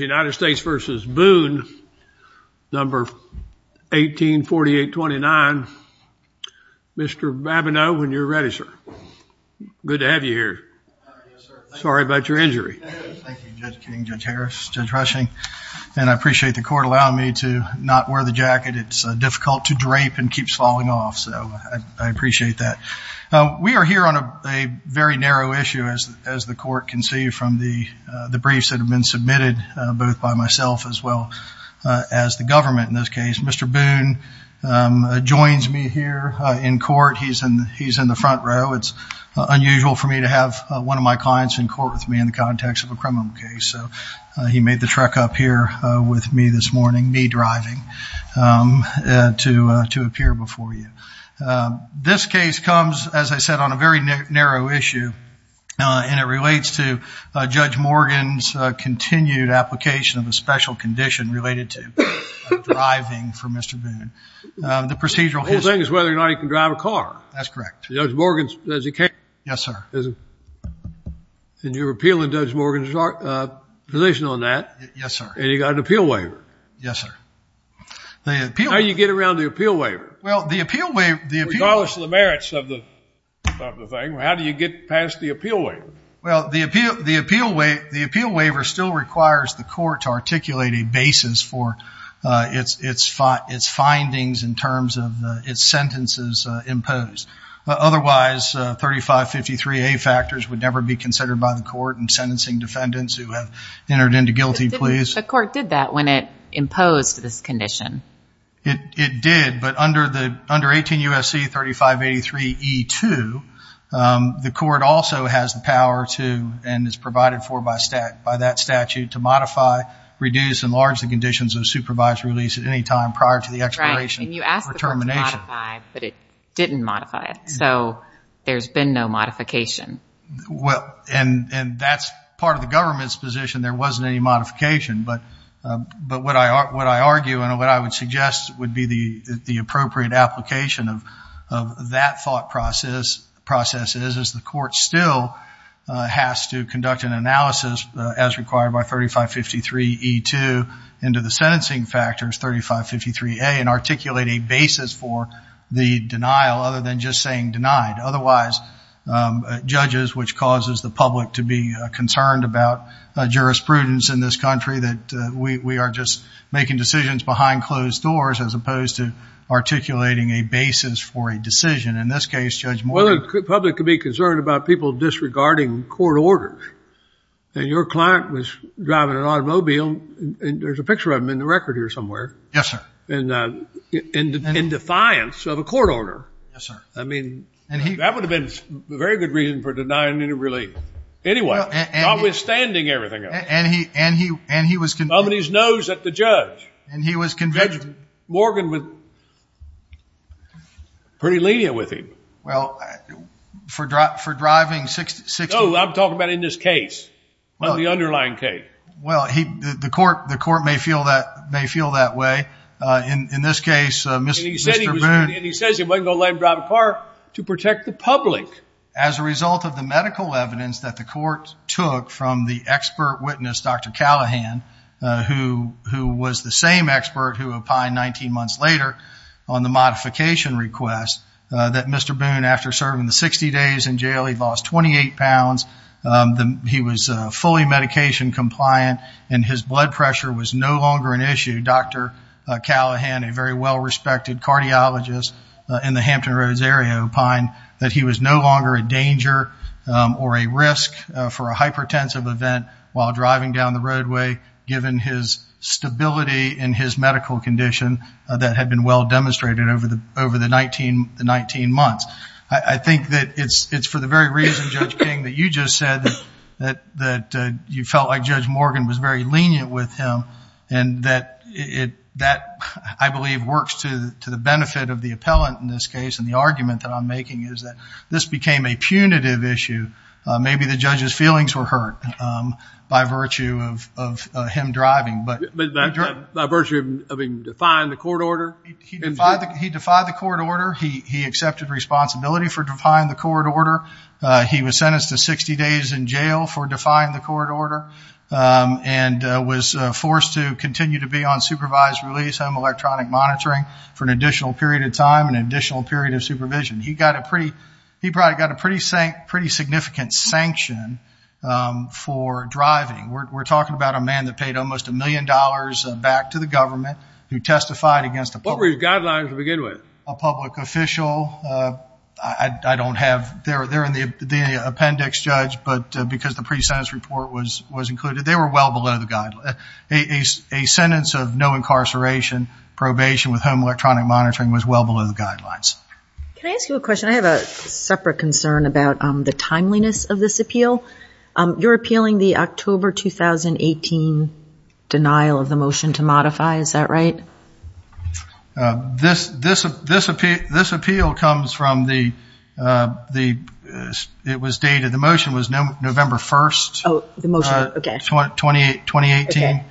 United States v. Boone, No. 184829. Mr. Babineau, when you're ready, sir. Good to have you here. Sorry about your injury. Thank you, Judge King, Judge Harris, Judge Rushing, and I appreciate the court allowing me to not wear the jacket. It's difficult to drape and keeps falling off, so I appreciate that. We are here on a very narrow issue, as the court can see from the booth by myself as well as the government in this case. Mr. Boone joins me here in court. He's in the front row. It's unusual for me to have one of my clients in court with me in the context of a criminal case, so he made the trek up here with me this morning, me driving, to appear before you. This case comes, as I said, on a very narrow issue, and it relates to Judge Morgan's continued application of a special condition related to driving for Mr. Boone. The procedural history... The whole thing is whether or not he can drive a car. That's correct. Judge Morgan says he can't. Yes, sir. And you're appealing Judge Morgan's position on that. Yes, sir. And you got an appeal waiver. Yes, sir. How do you get around the appeal waiver? Well, the appeal waiver... Regardless of the merits of the thing, how do you get past the appeal waiver? Well, the appeal waiver still requires the court to articulate a basis for its findings in terms of its sentences imposed. Otherwise, 3553A factors would never be considered by the court in sentencing defendants who have entered into guilty pleas. The court did that when it imposed this condition. It did, but under 18 U.S.C. 3583E2, the court also has the power to, and is provided for by that statute, to modify, reduce, and enlarge the conditions of supervised release at any time prior to the expiration or termination. Right, and you asked the court to modify, but it didn't modify it. So there's been no modification. Well, and that's part of the government's position. There wasn't any modification, but what I argue and what I would suggest would be the appropriate application of that thought process is the court still has to conduct an analysis as required by 3553E2 into the sentencing factors, 3553A, and articulate a basis for the denial other than just saying denied. Otherwise, judges, which causes the public to be concerned about jurisprudence in this country that we are just making decisions behind closed doors as opposed to articulating a basis for a decision. In this case, Judge Morgan. Well, the public could be concerned about people disregarding court orders, and your client was driving an automobile, and there's a picture of him in the record here somewhere. Yes, sir. And in defiance of a court order. Yes, sir. I mean, that would have been a very good reason for denying any relief. Anyway, notwithstanding everything else. And he was... Numbing his nose at the judge. And he was convicted. Judge Morgan was pretty lenient with him. Well, for driving 60... No, I'm talking about in this case, on the underlying case. Well, the court may feel that way. In this case, Mr. Boone... And he says he wasn't going to let him drive a car to protect the public. As a result of the witness, Dr. Callahan, who was the same expert who opined 19 months later on the modification request, that Mr. Boone, after serving the 60 days in jail, he lost 28 pounds, he was fully medication compliant, and his blood pressure was no longer an issue. Dr. Callahan, a very well-respected cardiologist in the Hampton Roads area, opined that he was no longer a danger or a risk for a hypertensive event while driving down the roadway, given his stability and his medical condition that had been well demonstrated over the 19 months. I think that it's for the very reason, Judge King, that you just said, that you felt like Judge Morgan was very lenient with him. And that, I believe, works to the benefit of the appellant in this case. And the argument that I'm making is that this became a punitive issue. Maybe the judge's feelings were hurt by virtue of him driving. By virtue of him defying the court order? He defied the court order. He accepted responsibility for defying the court order. He was sentenced to 60 days in jail for defying the court order and was forced to continue to be on supervised release, home electronic monitoring, for an additional period of time, an additional period of supervision. He probably got a pretty significant sanction for driving. We're talking about a man that paid almost a million dollars back to the government, who testified against a public... What were his guidelines to begin with? A public official. They're in the appendix, Judge, because the sentence of no incarceration, probation with home electronic monitoring, was well below the guidelines. Can I ask you a question? I have a separate concern about the timeliness of this appeal. You're appealing the October 2018 denial of the motion to modify. Is that right? This appeal comes from the... It was dated... The motion was November 1st. The motion, okay. 2018.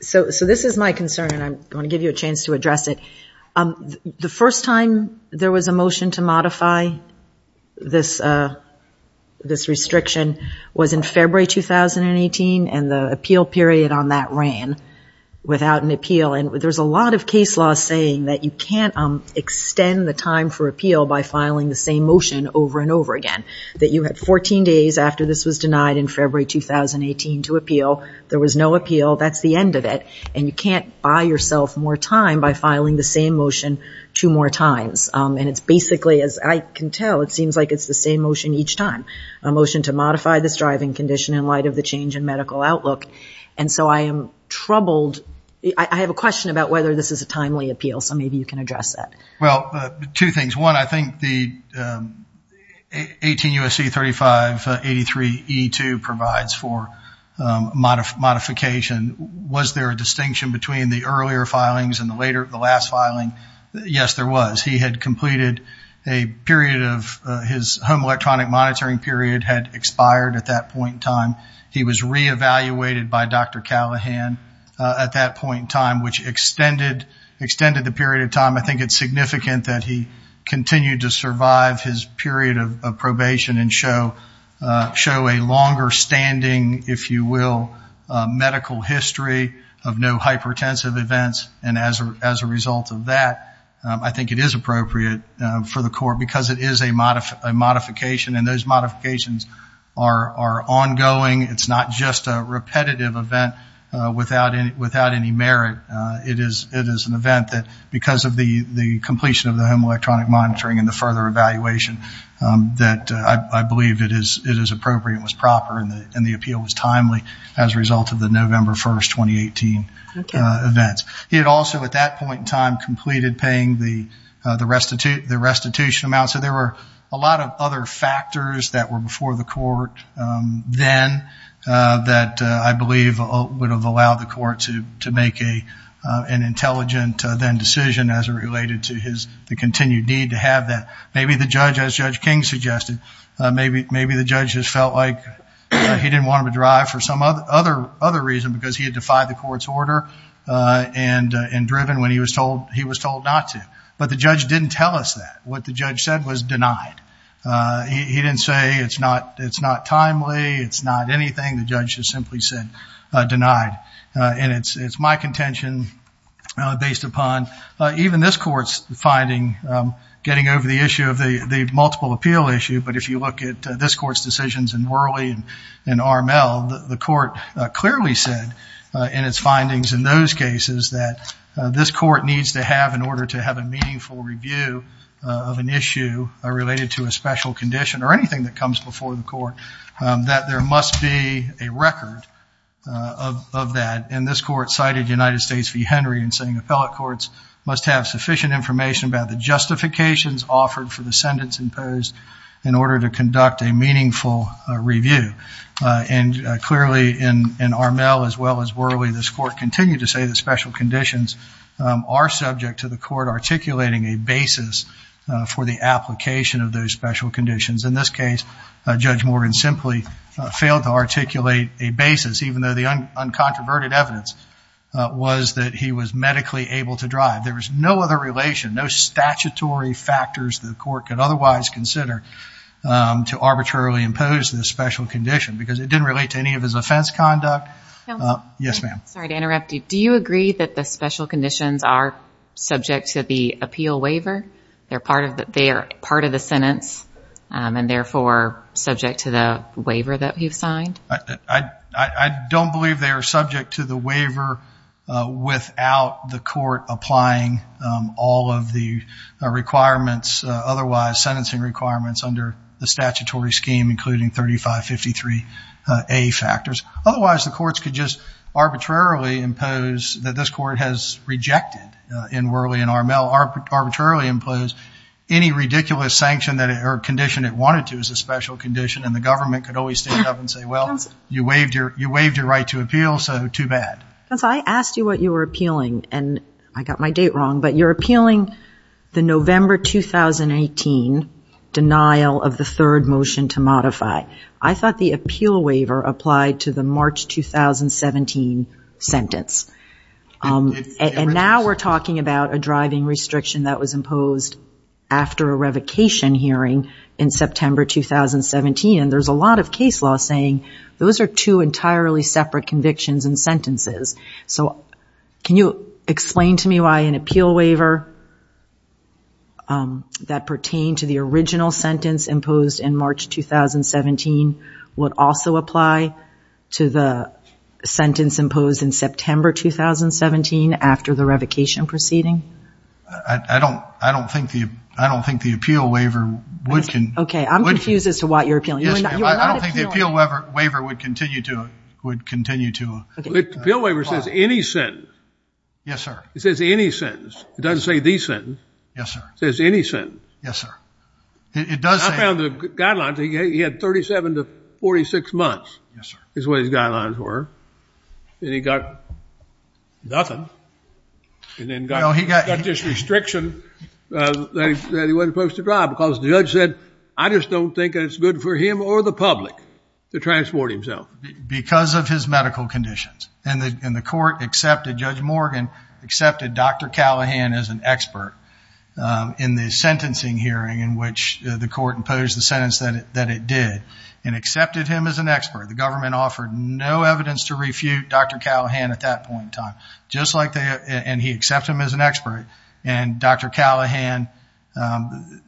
So this is my concern, and I'm going to give you a chance to address it. The first time there was a motion to modify this restriction was in February 2018, and the appeal period on that ran without an appeal. There's a lot of case law saying that you can't extend the time for appeal by filing the same motion over and over again. That you had 14 days after this was denied in February 2018 to appeal. There was no appeal. That's the end of it, and you can't buy yourself more time by filing the same motion two more times. And it's basically, as I can tell, it seems like it's the same motion each time. A motion to modify this driving condition in light of the change in medical outlook. And so I am troubled... I have a question about whether this is a timely appeal, so maybe you can address that. Well, two things. One, I think the 18 U.S.C. 3583E2 provides for modification. Was there a distinction between the earlier filings and the last filing? Yes, there was. He had completed a period of... His home electronic monitoring period had expired at that point in time. He was re-evaluated by Dr. Callahan at that point in time, which extended the period of time. I think it's significant that he continued to survive his period of probation and show a longer standing, if you will, medical history of no hypertensive events. And as a result of that, I think it is appropriate for the court because it is a modification, and those modifications are ongoing. It's not just a repetitive event without any merit. It is an event that because of the completion of the home electronic monitoring and the further evaluation that I believe it is appropriate and was proper, and the appeal was timely as a result of the November 1st, 2018 events. He had also at that point in time completed paying the restitution amount. So there were a lot of other factors that were before the court then that I believe would have allowed the court to make an intelligent then decision as it related to the continued need to have that. Maybe the judge, as Judge King suggested, maybe the judge just felt like he didn't want him to drive for some other reason because he had defied the court's order and driven when he was told not to. But the judge didn't tell us that. What the judge said was denied. He didn't say it's not timely, it's not anything. The judge just simply said denied. And it's my contention based upon even this court's finding, getting over the issue of the multiple appeal issue, but if you look at this court's decisions in Worley and RML, the court clearly said in its findings in those cases that this of an issue related to a special condition or anything that comes before the court, that there must be a record of that. And this court cited United States v. Henry in saying appellate courts must have sufficient information about the justifications offered for the sentence imposed in order to conduct a meaningful review. And clearly in RML as well as Worley, this court continued to say that special conditions are subject to the court articulating a basis for the application of those special conditions. In this case, Judge Morgan simply failed to articulate a basis even though the uncontroverted evidence was that he was medically able to drive. There was no other relation, no statutory factors the court could otherwise consider to arbitrarily impose this special condition because it didn't relate to any of his offense conduct. Yes ma'am. Sorry to interrupt you. Do you agree that the special conditions are subject to the appeal waiver? They are part of the sentence and therefore subject to the waiver that you've signed? I don't believe they are subject to the waiver without the court applying all of the requirements, otherwise sentencing requirements under the statutory scheme including 3553A factors. Otherwise, the courts could just arbitrarily impose that this court has rejected in Worley and RML arbitrarily impose any ridiculous sanction or condition it wanted to as a special condition and the government could always stand up and say, well, you waived your right to appeal so too bad. Counsel, I asked you what you were appealing and I got my date wrong, but you're appealing the November 2018 denial of the third motion to modify. I thought the appeal waiver applied to March 2017 sentence. And now we're talking about a driving restriction that was imposed after a revocation hearing in September 2017 and there's a lot of case law saying those are two entirely separate convictions and sentences. So can you explain to me why an appeal to the sentence imposed in September 2017 after the revocation proceeding? I don't think the appeal waiver would... Okay, I'm confused as to what you're appealing. I don't think the appeal waiver would continue to apply. The appeal waiver says any sentence. Yes, sir. It says any sentence. It doesn't say the sentence. Yes, sir. It says any sentence. Yes, sir. It does say... He had 37 to 46 months is what his guidelines were and he got nothing and then got this restriction that he wasn't supposed to drive because the judge said, I just don't think that it's good for him or the public to transport himself. Because of his medical conditions and the court accepted, Judge Morgan accepted Dr. Callahan as an expert in the sentencing hearing in which the court imposed the sentence that it did and accepted him as an expert. The government offered no evidence to refute Dr. Callahan at that point in time, just like they... And he accepted him as an expert and Dr. Callahan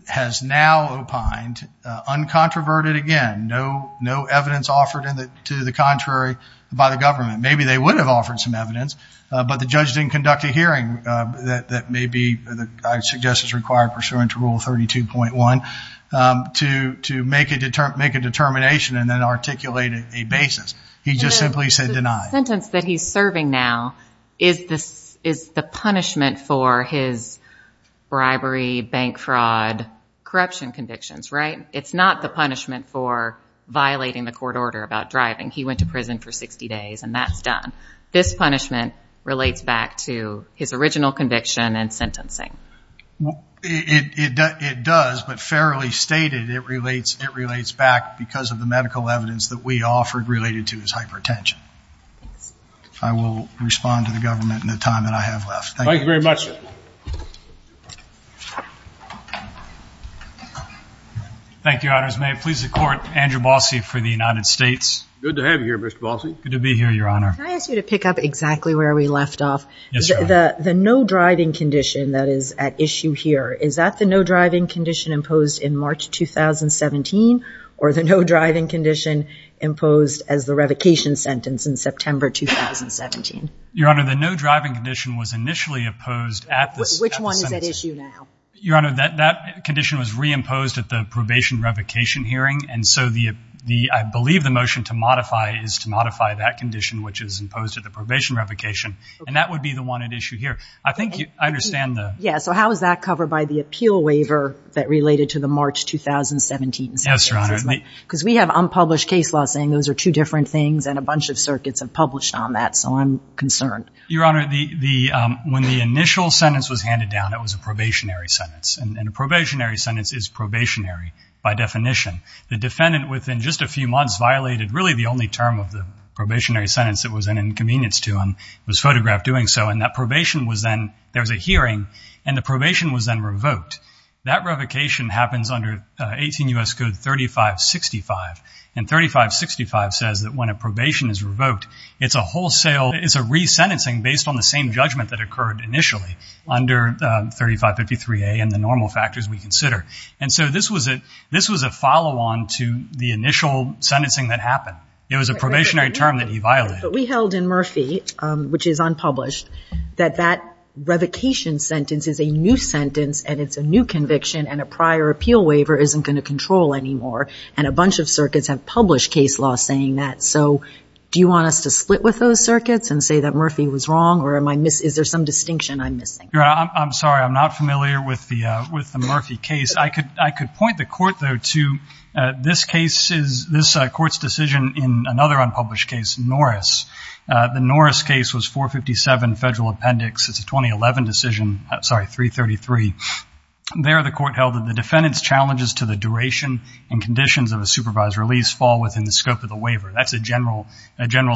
has now opined uncontroverted again, no evidence offered to the contrary by the government. Maybe they would have offered some evidence but the judge didn't conduct a hearing that maybe I suggest is required pursuant to Rule 32.1 to make a determination and then articulate a basis. He just simply said deny. The sentence that he's serving now is the punishment for his bribery, bank fraud, corruption convictions, right? It's not the punishment for violating the court order about driving. He went to prison for 60 days and that's done. This punishment relates back to his original conviction and sentencing. It does, but fairly stated, it relates back because of the medical evidence that we offered related to his hypertension. I will respond to the government in the time that I have left. Thank you very much, sir. Thank you, Your Honors. May it please the court, Andrew Balcy for the United States. Good to have you here, Mr. Balcy. Good to be here, Your Honor. Can I ask you to pick up exactly where we left off? Yes, Your Honor. The no driving condition that is at issue here, is that the no driving condition imposed in March 2017 or the no driving condition imposed as the revocation sentence in September 2017? Your Honor, the no driving condition was initially opposed at the sentence. Which one is at issue now? Your Honor, that condition was reimposed at the probation revocation hearing and so I believe the motion to modify is to modify that condition which is imposed at the probation revocation and that would be the one at issue here. I think I understand the- Yeah, so how is that covered by the appeal waiver that related to the March 2017 sentence? Yes, Your Honor. Because we have unpublished case law saying those are two different things and a bunch of circuits have published on that, so I'm concerned. Your Honor, when the initial sentence was handed down, it was a probationary sentence and a probationary sentence is probationary by definition. The defendant within just a few months violated really the only term of the probationary sentence that was an inconvenience to him. It was photographed doing so and that probation was then, there was a hearing and the probation was then revoked. That revocation happens under 18 U.S. Code 3565 and 3565 says that when a probation is revoked, it's a wholesale, it's a resentencing based on the judgment that occurred initially under 3553A and the normal factors we consider. And so this was a follow-on to the initial sentencing that happened. It was a probationary term that he violated. But we held in Murphy, which is unpublished, that that revocation sentence is a new sentence and it's a new conviction and a prior appeal waiver isn't going to control anymore and a bunch of circuits have published case law saying that. So do you want us to split with those circuits and say that Murphy was wrong or am I missing, is there some distinction I'm missing? I'm sorry. I'm not familiar with the Murphy case. I could point the court though to this case is, this court's decision in another unpublished case, Norris. The Norris case was 457 Federal Appendix. It's a 2011 decision, sorry, 333. There the court held that the defendant's challenges to the duration and conditions of a supervised release fall within the scope of the waiver. That's a general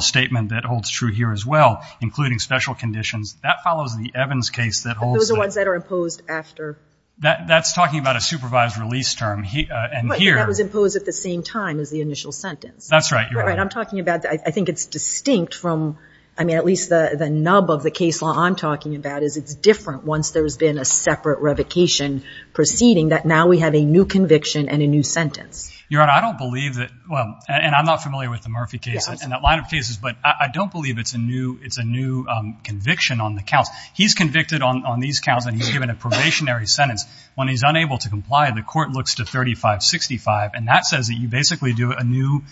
statement that holds true here as well, including special conditions. That follows the Evans case that holds the- But those are ones that are imposed after- That's talking about a supervised release term and here- But that was imposed at the same time as the initial sentence. That's right, Your Honor. Right. I'm talking about, I think it's distinct from, I mean, at least the nub of the case law I'm talking about is it's different once there's been a separate revocation proceeding that now we have a new conviction and a new sentence. Your Honor, I don't believe that, well, and I'm not familiar with the Murphy case and that line of cases, but I don't believe it's a new conviction on the counts. He's convicted on these counts and he's given a probationary sentence. When he's unable to comply, the court looks to 3565 and that says that you basically do a new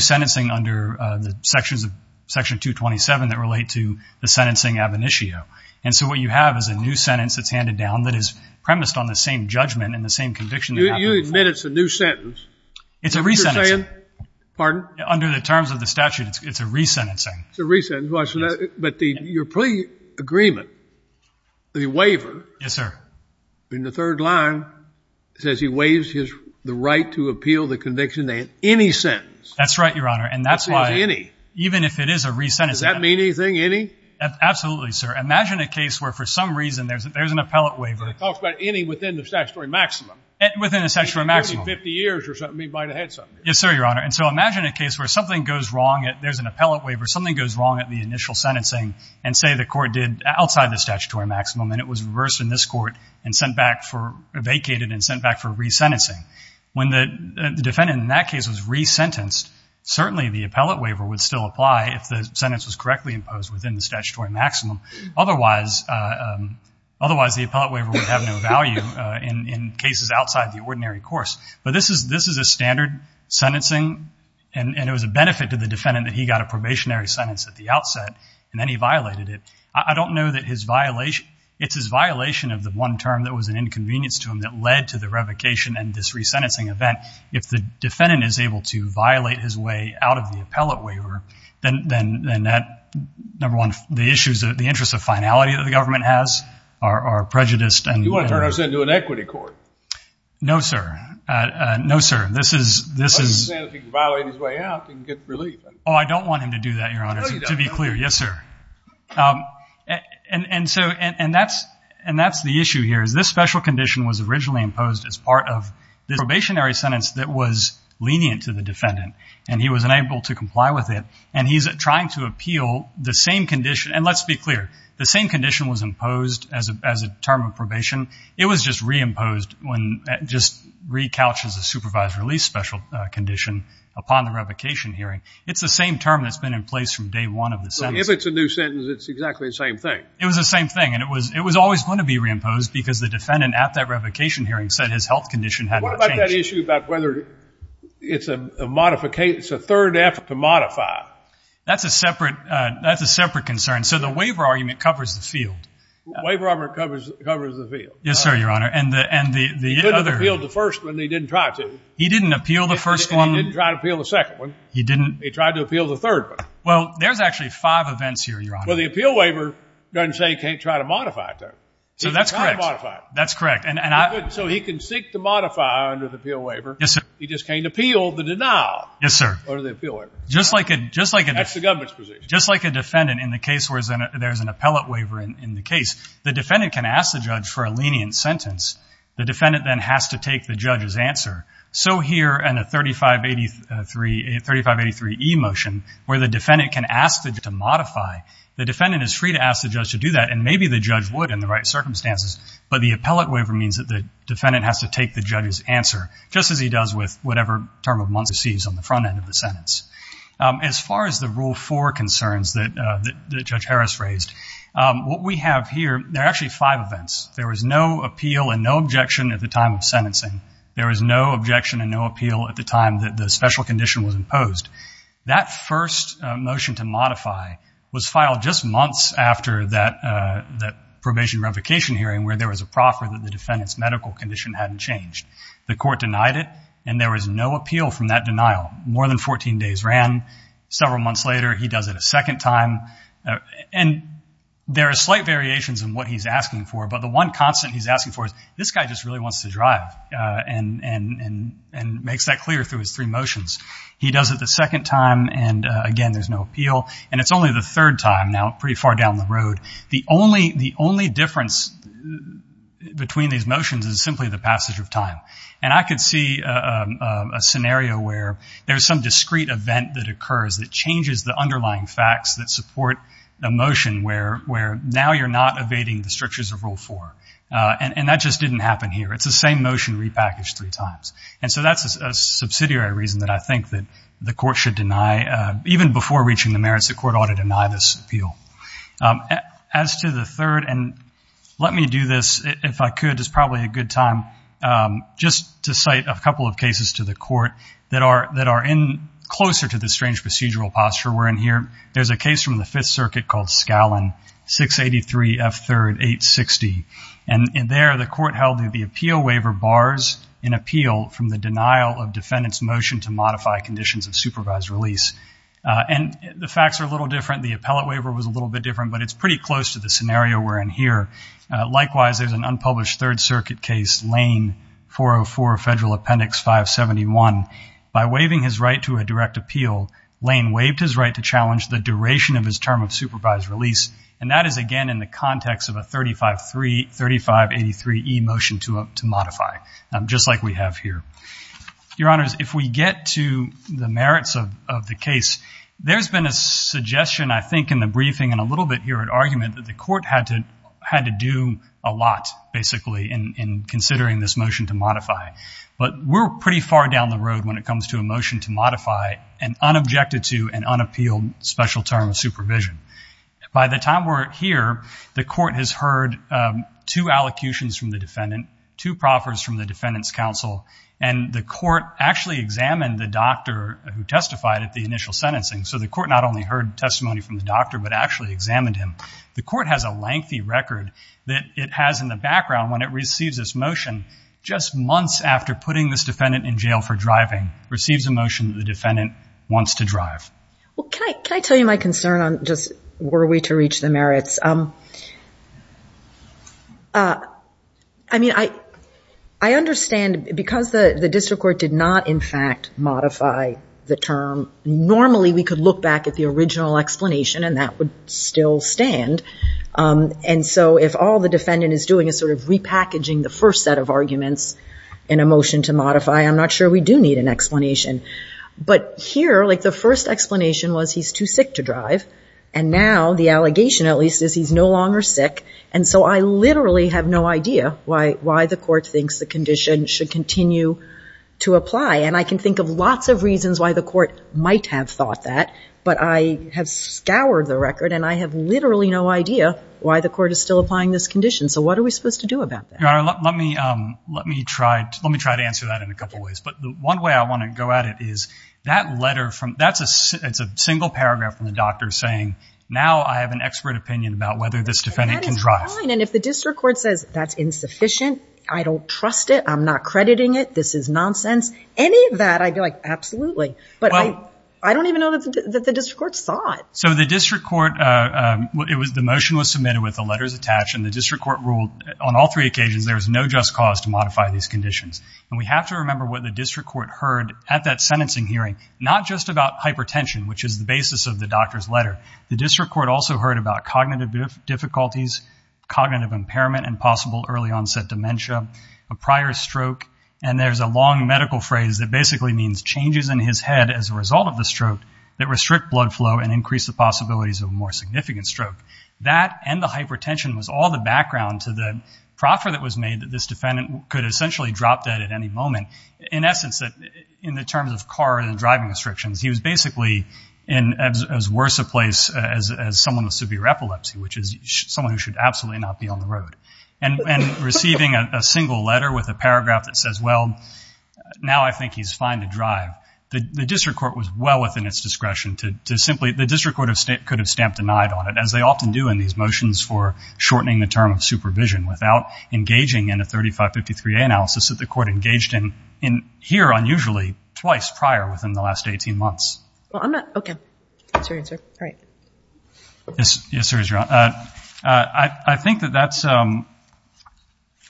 sentencing under the sections of Section 227 that relate to the sentencing ab initio. And so what you have is a new sentence that's handed down that is premised on the same judgment and the same conviction that happened before. So you admit it's a new sentence. It's a re-sentencing. Pardon? Under the terms of the statute, it's a re-sentencing. It's a re-sentencing. But your plea agreement, the waiver. Yes, sir. In the third line, it says he waives the right to appeal the conviction in any sentence. That's right, Your Honor. That's why any. Even if it is a re-sentencing. Does that mean anything, any? Absolutely, sir. Imagine a case where for some reason there's an appellate waiver. It talks about any within the statutory maximum. Within the statutory maximum. 50 years or something, he might have had something. Yes, sir, Your Honor. And so imagine a case where something goes wrong, there's an appellate waiver, something goes wrong at the initial sentencing and say the court did outside the statutory maximum and it was reversed in this court and sent back for, vacated and sent back for re-sentencing. When the defendant in that case was re-sentenced, certainly the appellate waiver would still apply if the sentence was correctly imposed within the statutory maximum. Otherwise, the appellate waiver would have no value in cases outside the ordinary course. But this is a standard sentencing and it was a benefit to the defendant that he got a probationary sentence at the outset and then he violated it. I don't know that his violation, it's his violation of the one term that was an inconvenience to him that led to the revocation and this re-sentencing event. If the defendant is able to violate his way out of the appellate waiver, then that, number one, the issues, the interest of finality that the government has are prejudiced and- You want to turn us into an equity court? No, sir. No, sir. This is- I'm just saying if he can violate his way out, he can get relief. Oh, I don't want him to do that, Your Honor. No, you don't. To be clear. Yes, sir. And that's the issue here is this special condition was originally imposed as part of this probationary sentence that was lenient to the defendant and he was unable to comply with it and he's trying to appeal the same condition. And let's be clear. The same condition was imposed as a term of probation. It was just re-imposed when just re-couches a supervised release special condition upon the revocation hearing. It's the same term that's been in place from day one of the sentence. If it's a new sentence, it's exactly the same thing. It was the same thing and it was always going to be re-imposed because the defendant at that revocation hearing said his health condition had not changed. Is that issue about whether it's a third effort to modify? That's a separate concern. So the waiver argument covers the field. Waiver argument covers the field. Yes, sir, Your Honor. He didn't appeal the first one. He didn't try to. He didn't appeal the first one. He didn't try to appeal the second one. He didn't. He tried to appeal the third one. Well, there's actually five events here, Your Honor. Well, the appeal waiver doesn't say he can't try to modify it, though. So that's correct. He can try to modify it. That's correct. So he can seek to modify under the appeal waiver. Yes, sir. He just can't appeal the denial. Yes, sir. Under the appeal waiver. That's the government's position. Just like a defendant in the case where there's an appellate waiver in the case, the defendant can ask the judge for a lenient sentence. The defendant then has to take the judge's answer. So here in the 3583E motion where the defendant can ask the judge to modify, the defendant is free to ask the judge to do that and maybe the judge would in the right circumstances. But the appellate waiver means that the defendant has to take the judge's answer, just as he does with whatever term of month he sees on the front end of the sentence. As far as the rule four concerns that Judge Harris raised, what we have here, there are actually five events. There was no appeal and no objection at the time of sentencing. There was no objection and no appeal at the time that the special condition was imposed. That first motion to modify was filed just months after that probation revocation hearing where there was a proffer that the defendant's medical condition hadn't changed. The court denied it and there was no appeal from that denial. More than 14 days ran. Several months later, he does it a second time. And there are slight variations in what he's asking for. But the one constant he's asking for is, this guy just really wants to drive and makes that clear through his three motions. He does it the second time and, again, there's no appeal. And it's only the third time now, pretty far down the road. The only difference between these motions is simply the passage of time. And I could see a scenario where there's some discrete event that occurs that changes the underlying facts that support a motion where now you're not evading the structures of rule four. And that just didn't happen here. It's the same motion repackaged three times. And so that's a subsidiary reason that I think that the court should deny, even before reaching the merits, the court ought to deny this appeal. As to the third, and let me do this, if I could, it's probably a good time, just to cite a couple of cases to the court that are in closer to the strange procedural posture we're in here. There's a case from the Fifth Circuit called Scallon 683 F3rd 860. And there the court held that the appeal waiver bars an appeal from the denial of defendant's motion to modify conditions of supervised release. And the facts are a little different. The appellate waiver was a little bit different. But it's pretty close to the scenario we're in here. Likewise, there's an unpublished Third Circuit case, Lane 404, Federal Appendix 571. By waiving his right to a direct appeal, Lane waived his right to challenge the duration of his term of supervised release. And that is, again, in the context of a 3583E motion to modify, just like we have here. Your Honors, if we get to the merits of the case, there's been a suggestion, I think, in the briefing and a little bit here at argument that the court had to do a lot, basically, in considering this motion to modify. But we're pretty far down the road when it comes to a motion to modify and unobjected to an unappealed special term of supervision. By the time we're here, the court has heard two allocutions from the defendant, two proffers from the defendant's counsel, and the court actually examined the doctor who testified at the initial sentencing. So the court not only heard testimony from the doctor, but actually examined him. The court has a lengthy record that it has in the background when it receives this motion just months after putting this defendant in jail for driving, receives a motion that the defendant wants to drive. Well, can I tell you my concern on just were we to reach the merits? I mean, I understand because the district court did not, in fact, modify the term. Normally, we could look back at the original explanation and that would still stand. And so if all the defendant is doing is sort of repackaging the first set of arguments in a motion to modify, I'm not sure we do need an explanation. But here, like the first explanation was he's too sick to drive. And now the allegation, at least, is he's no longer sick. And so I literally have no idea why the court thinks the condition should continue to apply. And I can think of lots of reasons why the court might have thought that. But I have scoured the record and I have literally no idea why the court is still applying this condition. So what are we supposed to do about that? Your Honor, let me try to answer that in a couple ways. But one way I want to go at it is that letter, it's a single paragraph from the doctor saying, now I have an expert opinion about whether this defendant can drive. And that is fine. And if the district court says that's insufficient, I don't trust it, I'm not crediting it, this is nonsense, any of that, I'd be like, absolutely. But I don't even know that the district court saw it. So the district court, the motion was submitted with the letters attached and the district court ruled on all three occasions there was no just cause to modify these conditions. And we have to remember what the district court heard at that sentencing hearing, not just about hypertension, which is the basis of the doctor's letter. The district court also heard about cognitive difficulties, cognitive impairment and possible early onset dementia, a prior stroke, and there's a long medical phrase that basically means changes in his head as a result of the stroke that restrict blood flow and increase the possibilities of a more significant stroke. That and the hypertension was all the background to the proffer that was made that this defendant could essentially drop dead at any moment. In essence, in the terms of car and driving restrictions, he was basically in as worse a place as someone with severe epilepsy, which is someone who should absolutely not be on the road. And receiving a single letter with a paragraph that says, well, now I think he's fine to drive, the district court was well within its discretion to simply, the district court could have stamped denied on it, as they often do in these motions for shortening the term of supervision without engaging in a 3553A analysis that the court engaged in here unusually twice prior within the last 18 months. Well, I'm not, okay, that's your answer, all right. Yes, sir, you're on. I think that that's,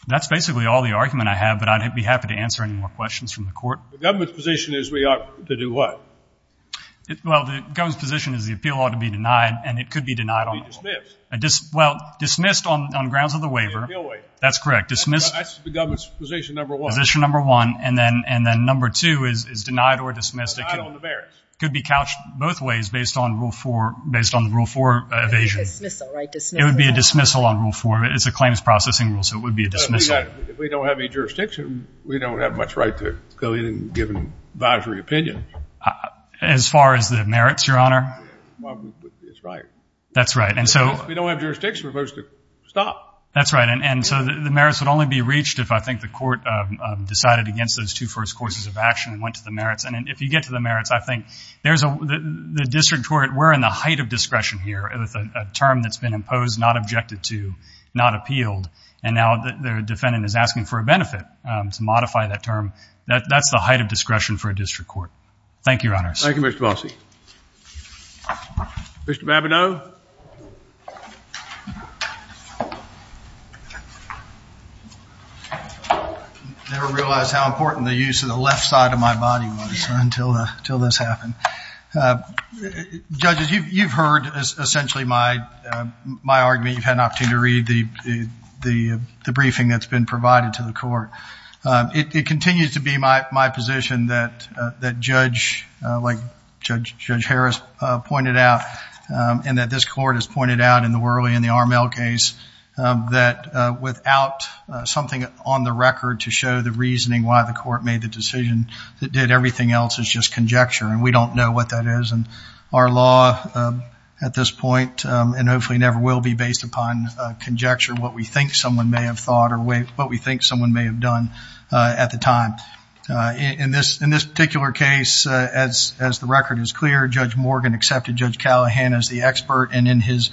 that's basically all the argument I have, but I'd be happy to answer any more questions from the court. The government's position is we ought to do what? Well, the government's position is the appeal ought to be denied and it could be denied on the law. It could be dismissed. Well, dismissed on grounds of the waiver. Appeal waiver. That's correct, dismissed. That's the government's position number one. Position number one, and then number two is denied or dismissed. Denied on the merits. It could be couched both ways based on rule four, based on rule four evasion. Dismissal, right, dismissal. It would be a dismissal on rule four. It's a claims processing rule, so it would be a dismissal. If we don't have any jurisdiction, we don't have much right to go in and give an advisory opinion. As far as the merits, Your Honor? It's right. That's right, and so. If we don't have jurisdiction, we're supposed to stop. That's right, and so the merits would only be reached if I think the court decided against those two first courses of action and went to the merits, and if you get to the merits, I think there's a, the district court, we're in the height of discretion here with a term that's been imposed, not objected to, not appealed, and now their defendant is asking for a benefit to modify that term. That's the height of discretion for a district court. Thank you, Your Honor. Thank you, Mr. Bossi. Mr. Babineau? I never realized how important the use of the left side of my body was until this happened. Judges, you've heard essentially my argument. You've had an opportunity to read the briefing that's been provided to the court. It continues to be my position that Judge, like Judge Harris pointed out, and that this court has pointed out in the Worley and the Armell case, that without something on the record to show the reasoning why the court made the decision that did everything else is just conjecture, and we don't know what that is. And our law at this point, and hopefully never will be, based upon conjecture, what we think someone may have thought or what we think someone may have done at the time. In this particular case, as the record is clear, Judge Morgan accepted Judge Callahan as the expert and in his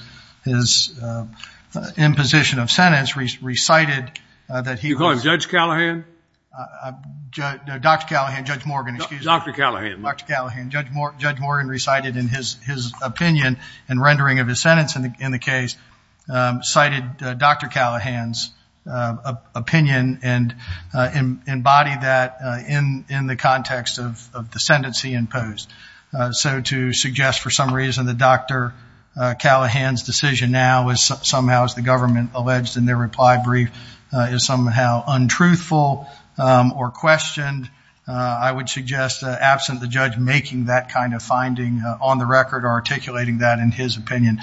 imposition of sentence recited that he was- You're calling Judge Callahan? No, Dr. Callahan, Judge Morgan, excuse me. Dr. Callahan. Dr. Callahan. Judge Morgan recited in his opinion and rendering of his sentence in the case, cited Dr. Callahan's opinion and embodied that in the context of the sentence he imposed. So to suggest for some reason that Dr. Callahan's decision now is somehow, as the government alleged in their reply brief, is somehow untruthful or questioned, I would suggest absent the judge making that kind of finding on the record or articulating that in his opinion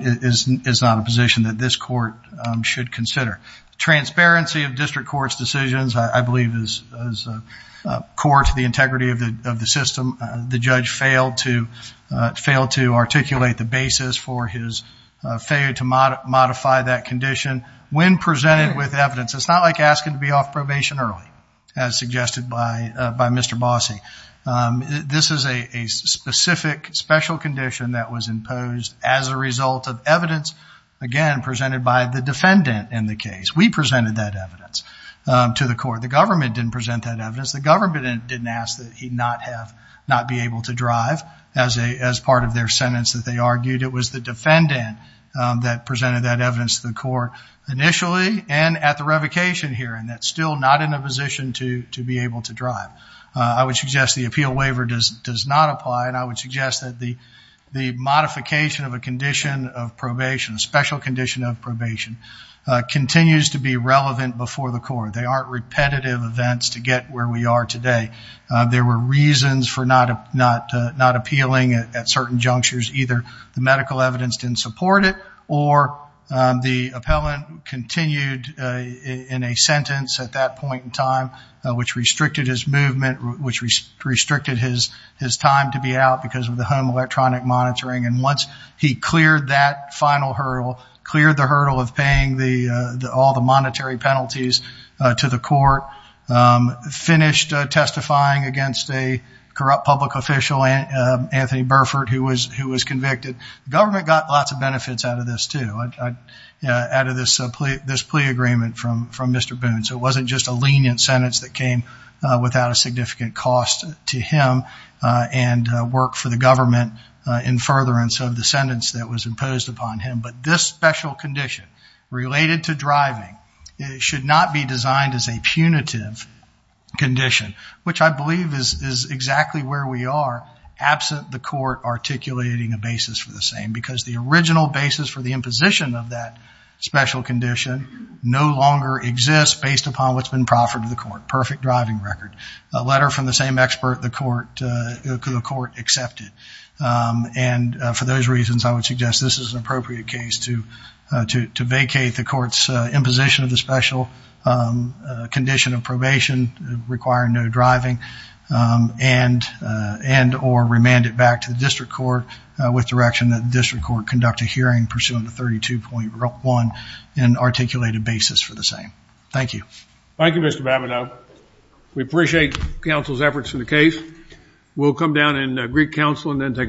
is not a position that this court should consider. Transparency of district court's decisions, I believe is core to the integrity of the system. The judge failed to articulate the basis for his failure to modify that condition when presented with evidence. It's not like asking to be off probation early, as suggested by Mr. Bossi. This is a specific special condition that was imposed as a result of evidence, again, presented by the defendant in the case. We presented that evidence to the court. The government didn't present that evidence. The government didn't ask that he not be able to drive as part of their sentence that they argued. It was the defendant that presented that evidence to the court initially and at the revocation hearing that's still not in a position to be able to drive. I would suggest the appeal waiver does not apply and I would suggest that the modification of a condition of probation, a special condition of probation, continues to be relevant before the court. They aren't repetitive events to get where we are today. There were reasons for not appealing at certain junctures. Either the medical evidence didn't support it or the appellant continued in a sentence at that point in time, which restricted his movement, which restricted his time to be out because of the home electronic monitoring. And once he cleared that final hurdle, cleared the hurdle of paying all the monetary penalties to the court, finished testifying against a corrupt public official, Anthony Burford, who was convicted, the government got lots of benefits out of this too, out of this plea agreement from Mr. Boone. So it wasn't just a lenient sentence that came without a significant cost to him and work for the government in furtherance of the sentence that was imposed upon him. But this special condition related to driving should not be designed as a punitive condition, which I believe is exactly where we are absent the court articulating a basis for the same because the original basis for the imposition of that special condition no longer exists based upon what's been proffered to the court. Perfect driving record. A letter from the same expert the court accepted. And for those reasons I would suggest this is an appropriate case to vacate the court's imposition of the special condition of probation requiring no driving and or remand it back to the district court with direction that the district court conduct a hearing pursuing the 32.1 and articulate a basis for the same. Thank you. Thank you Mr. Babineau. We appreciate counsel's efforts in the case. We'll come down in Greek Council and then take a short break.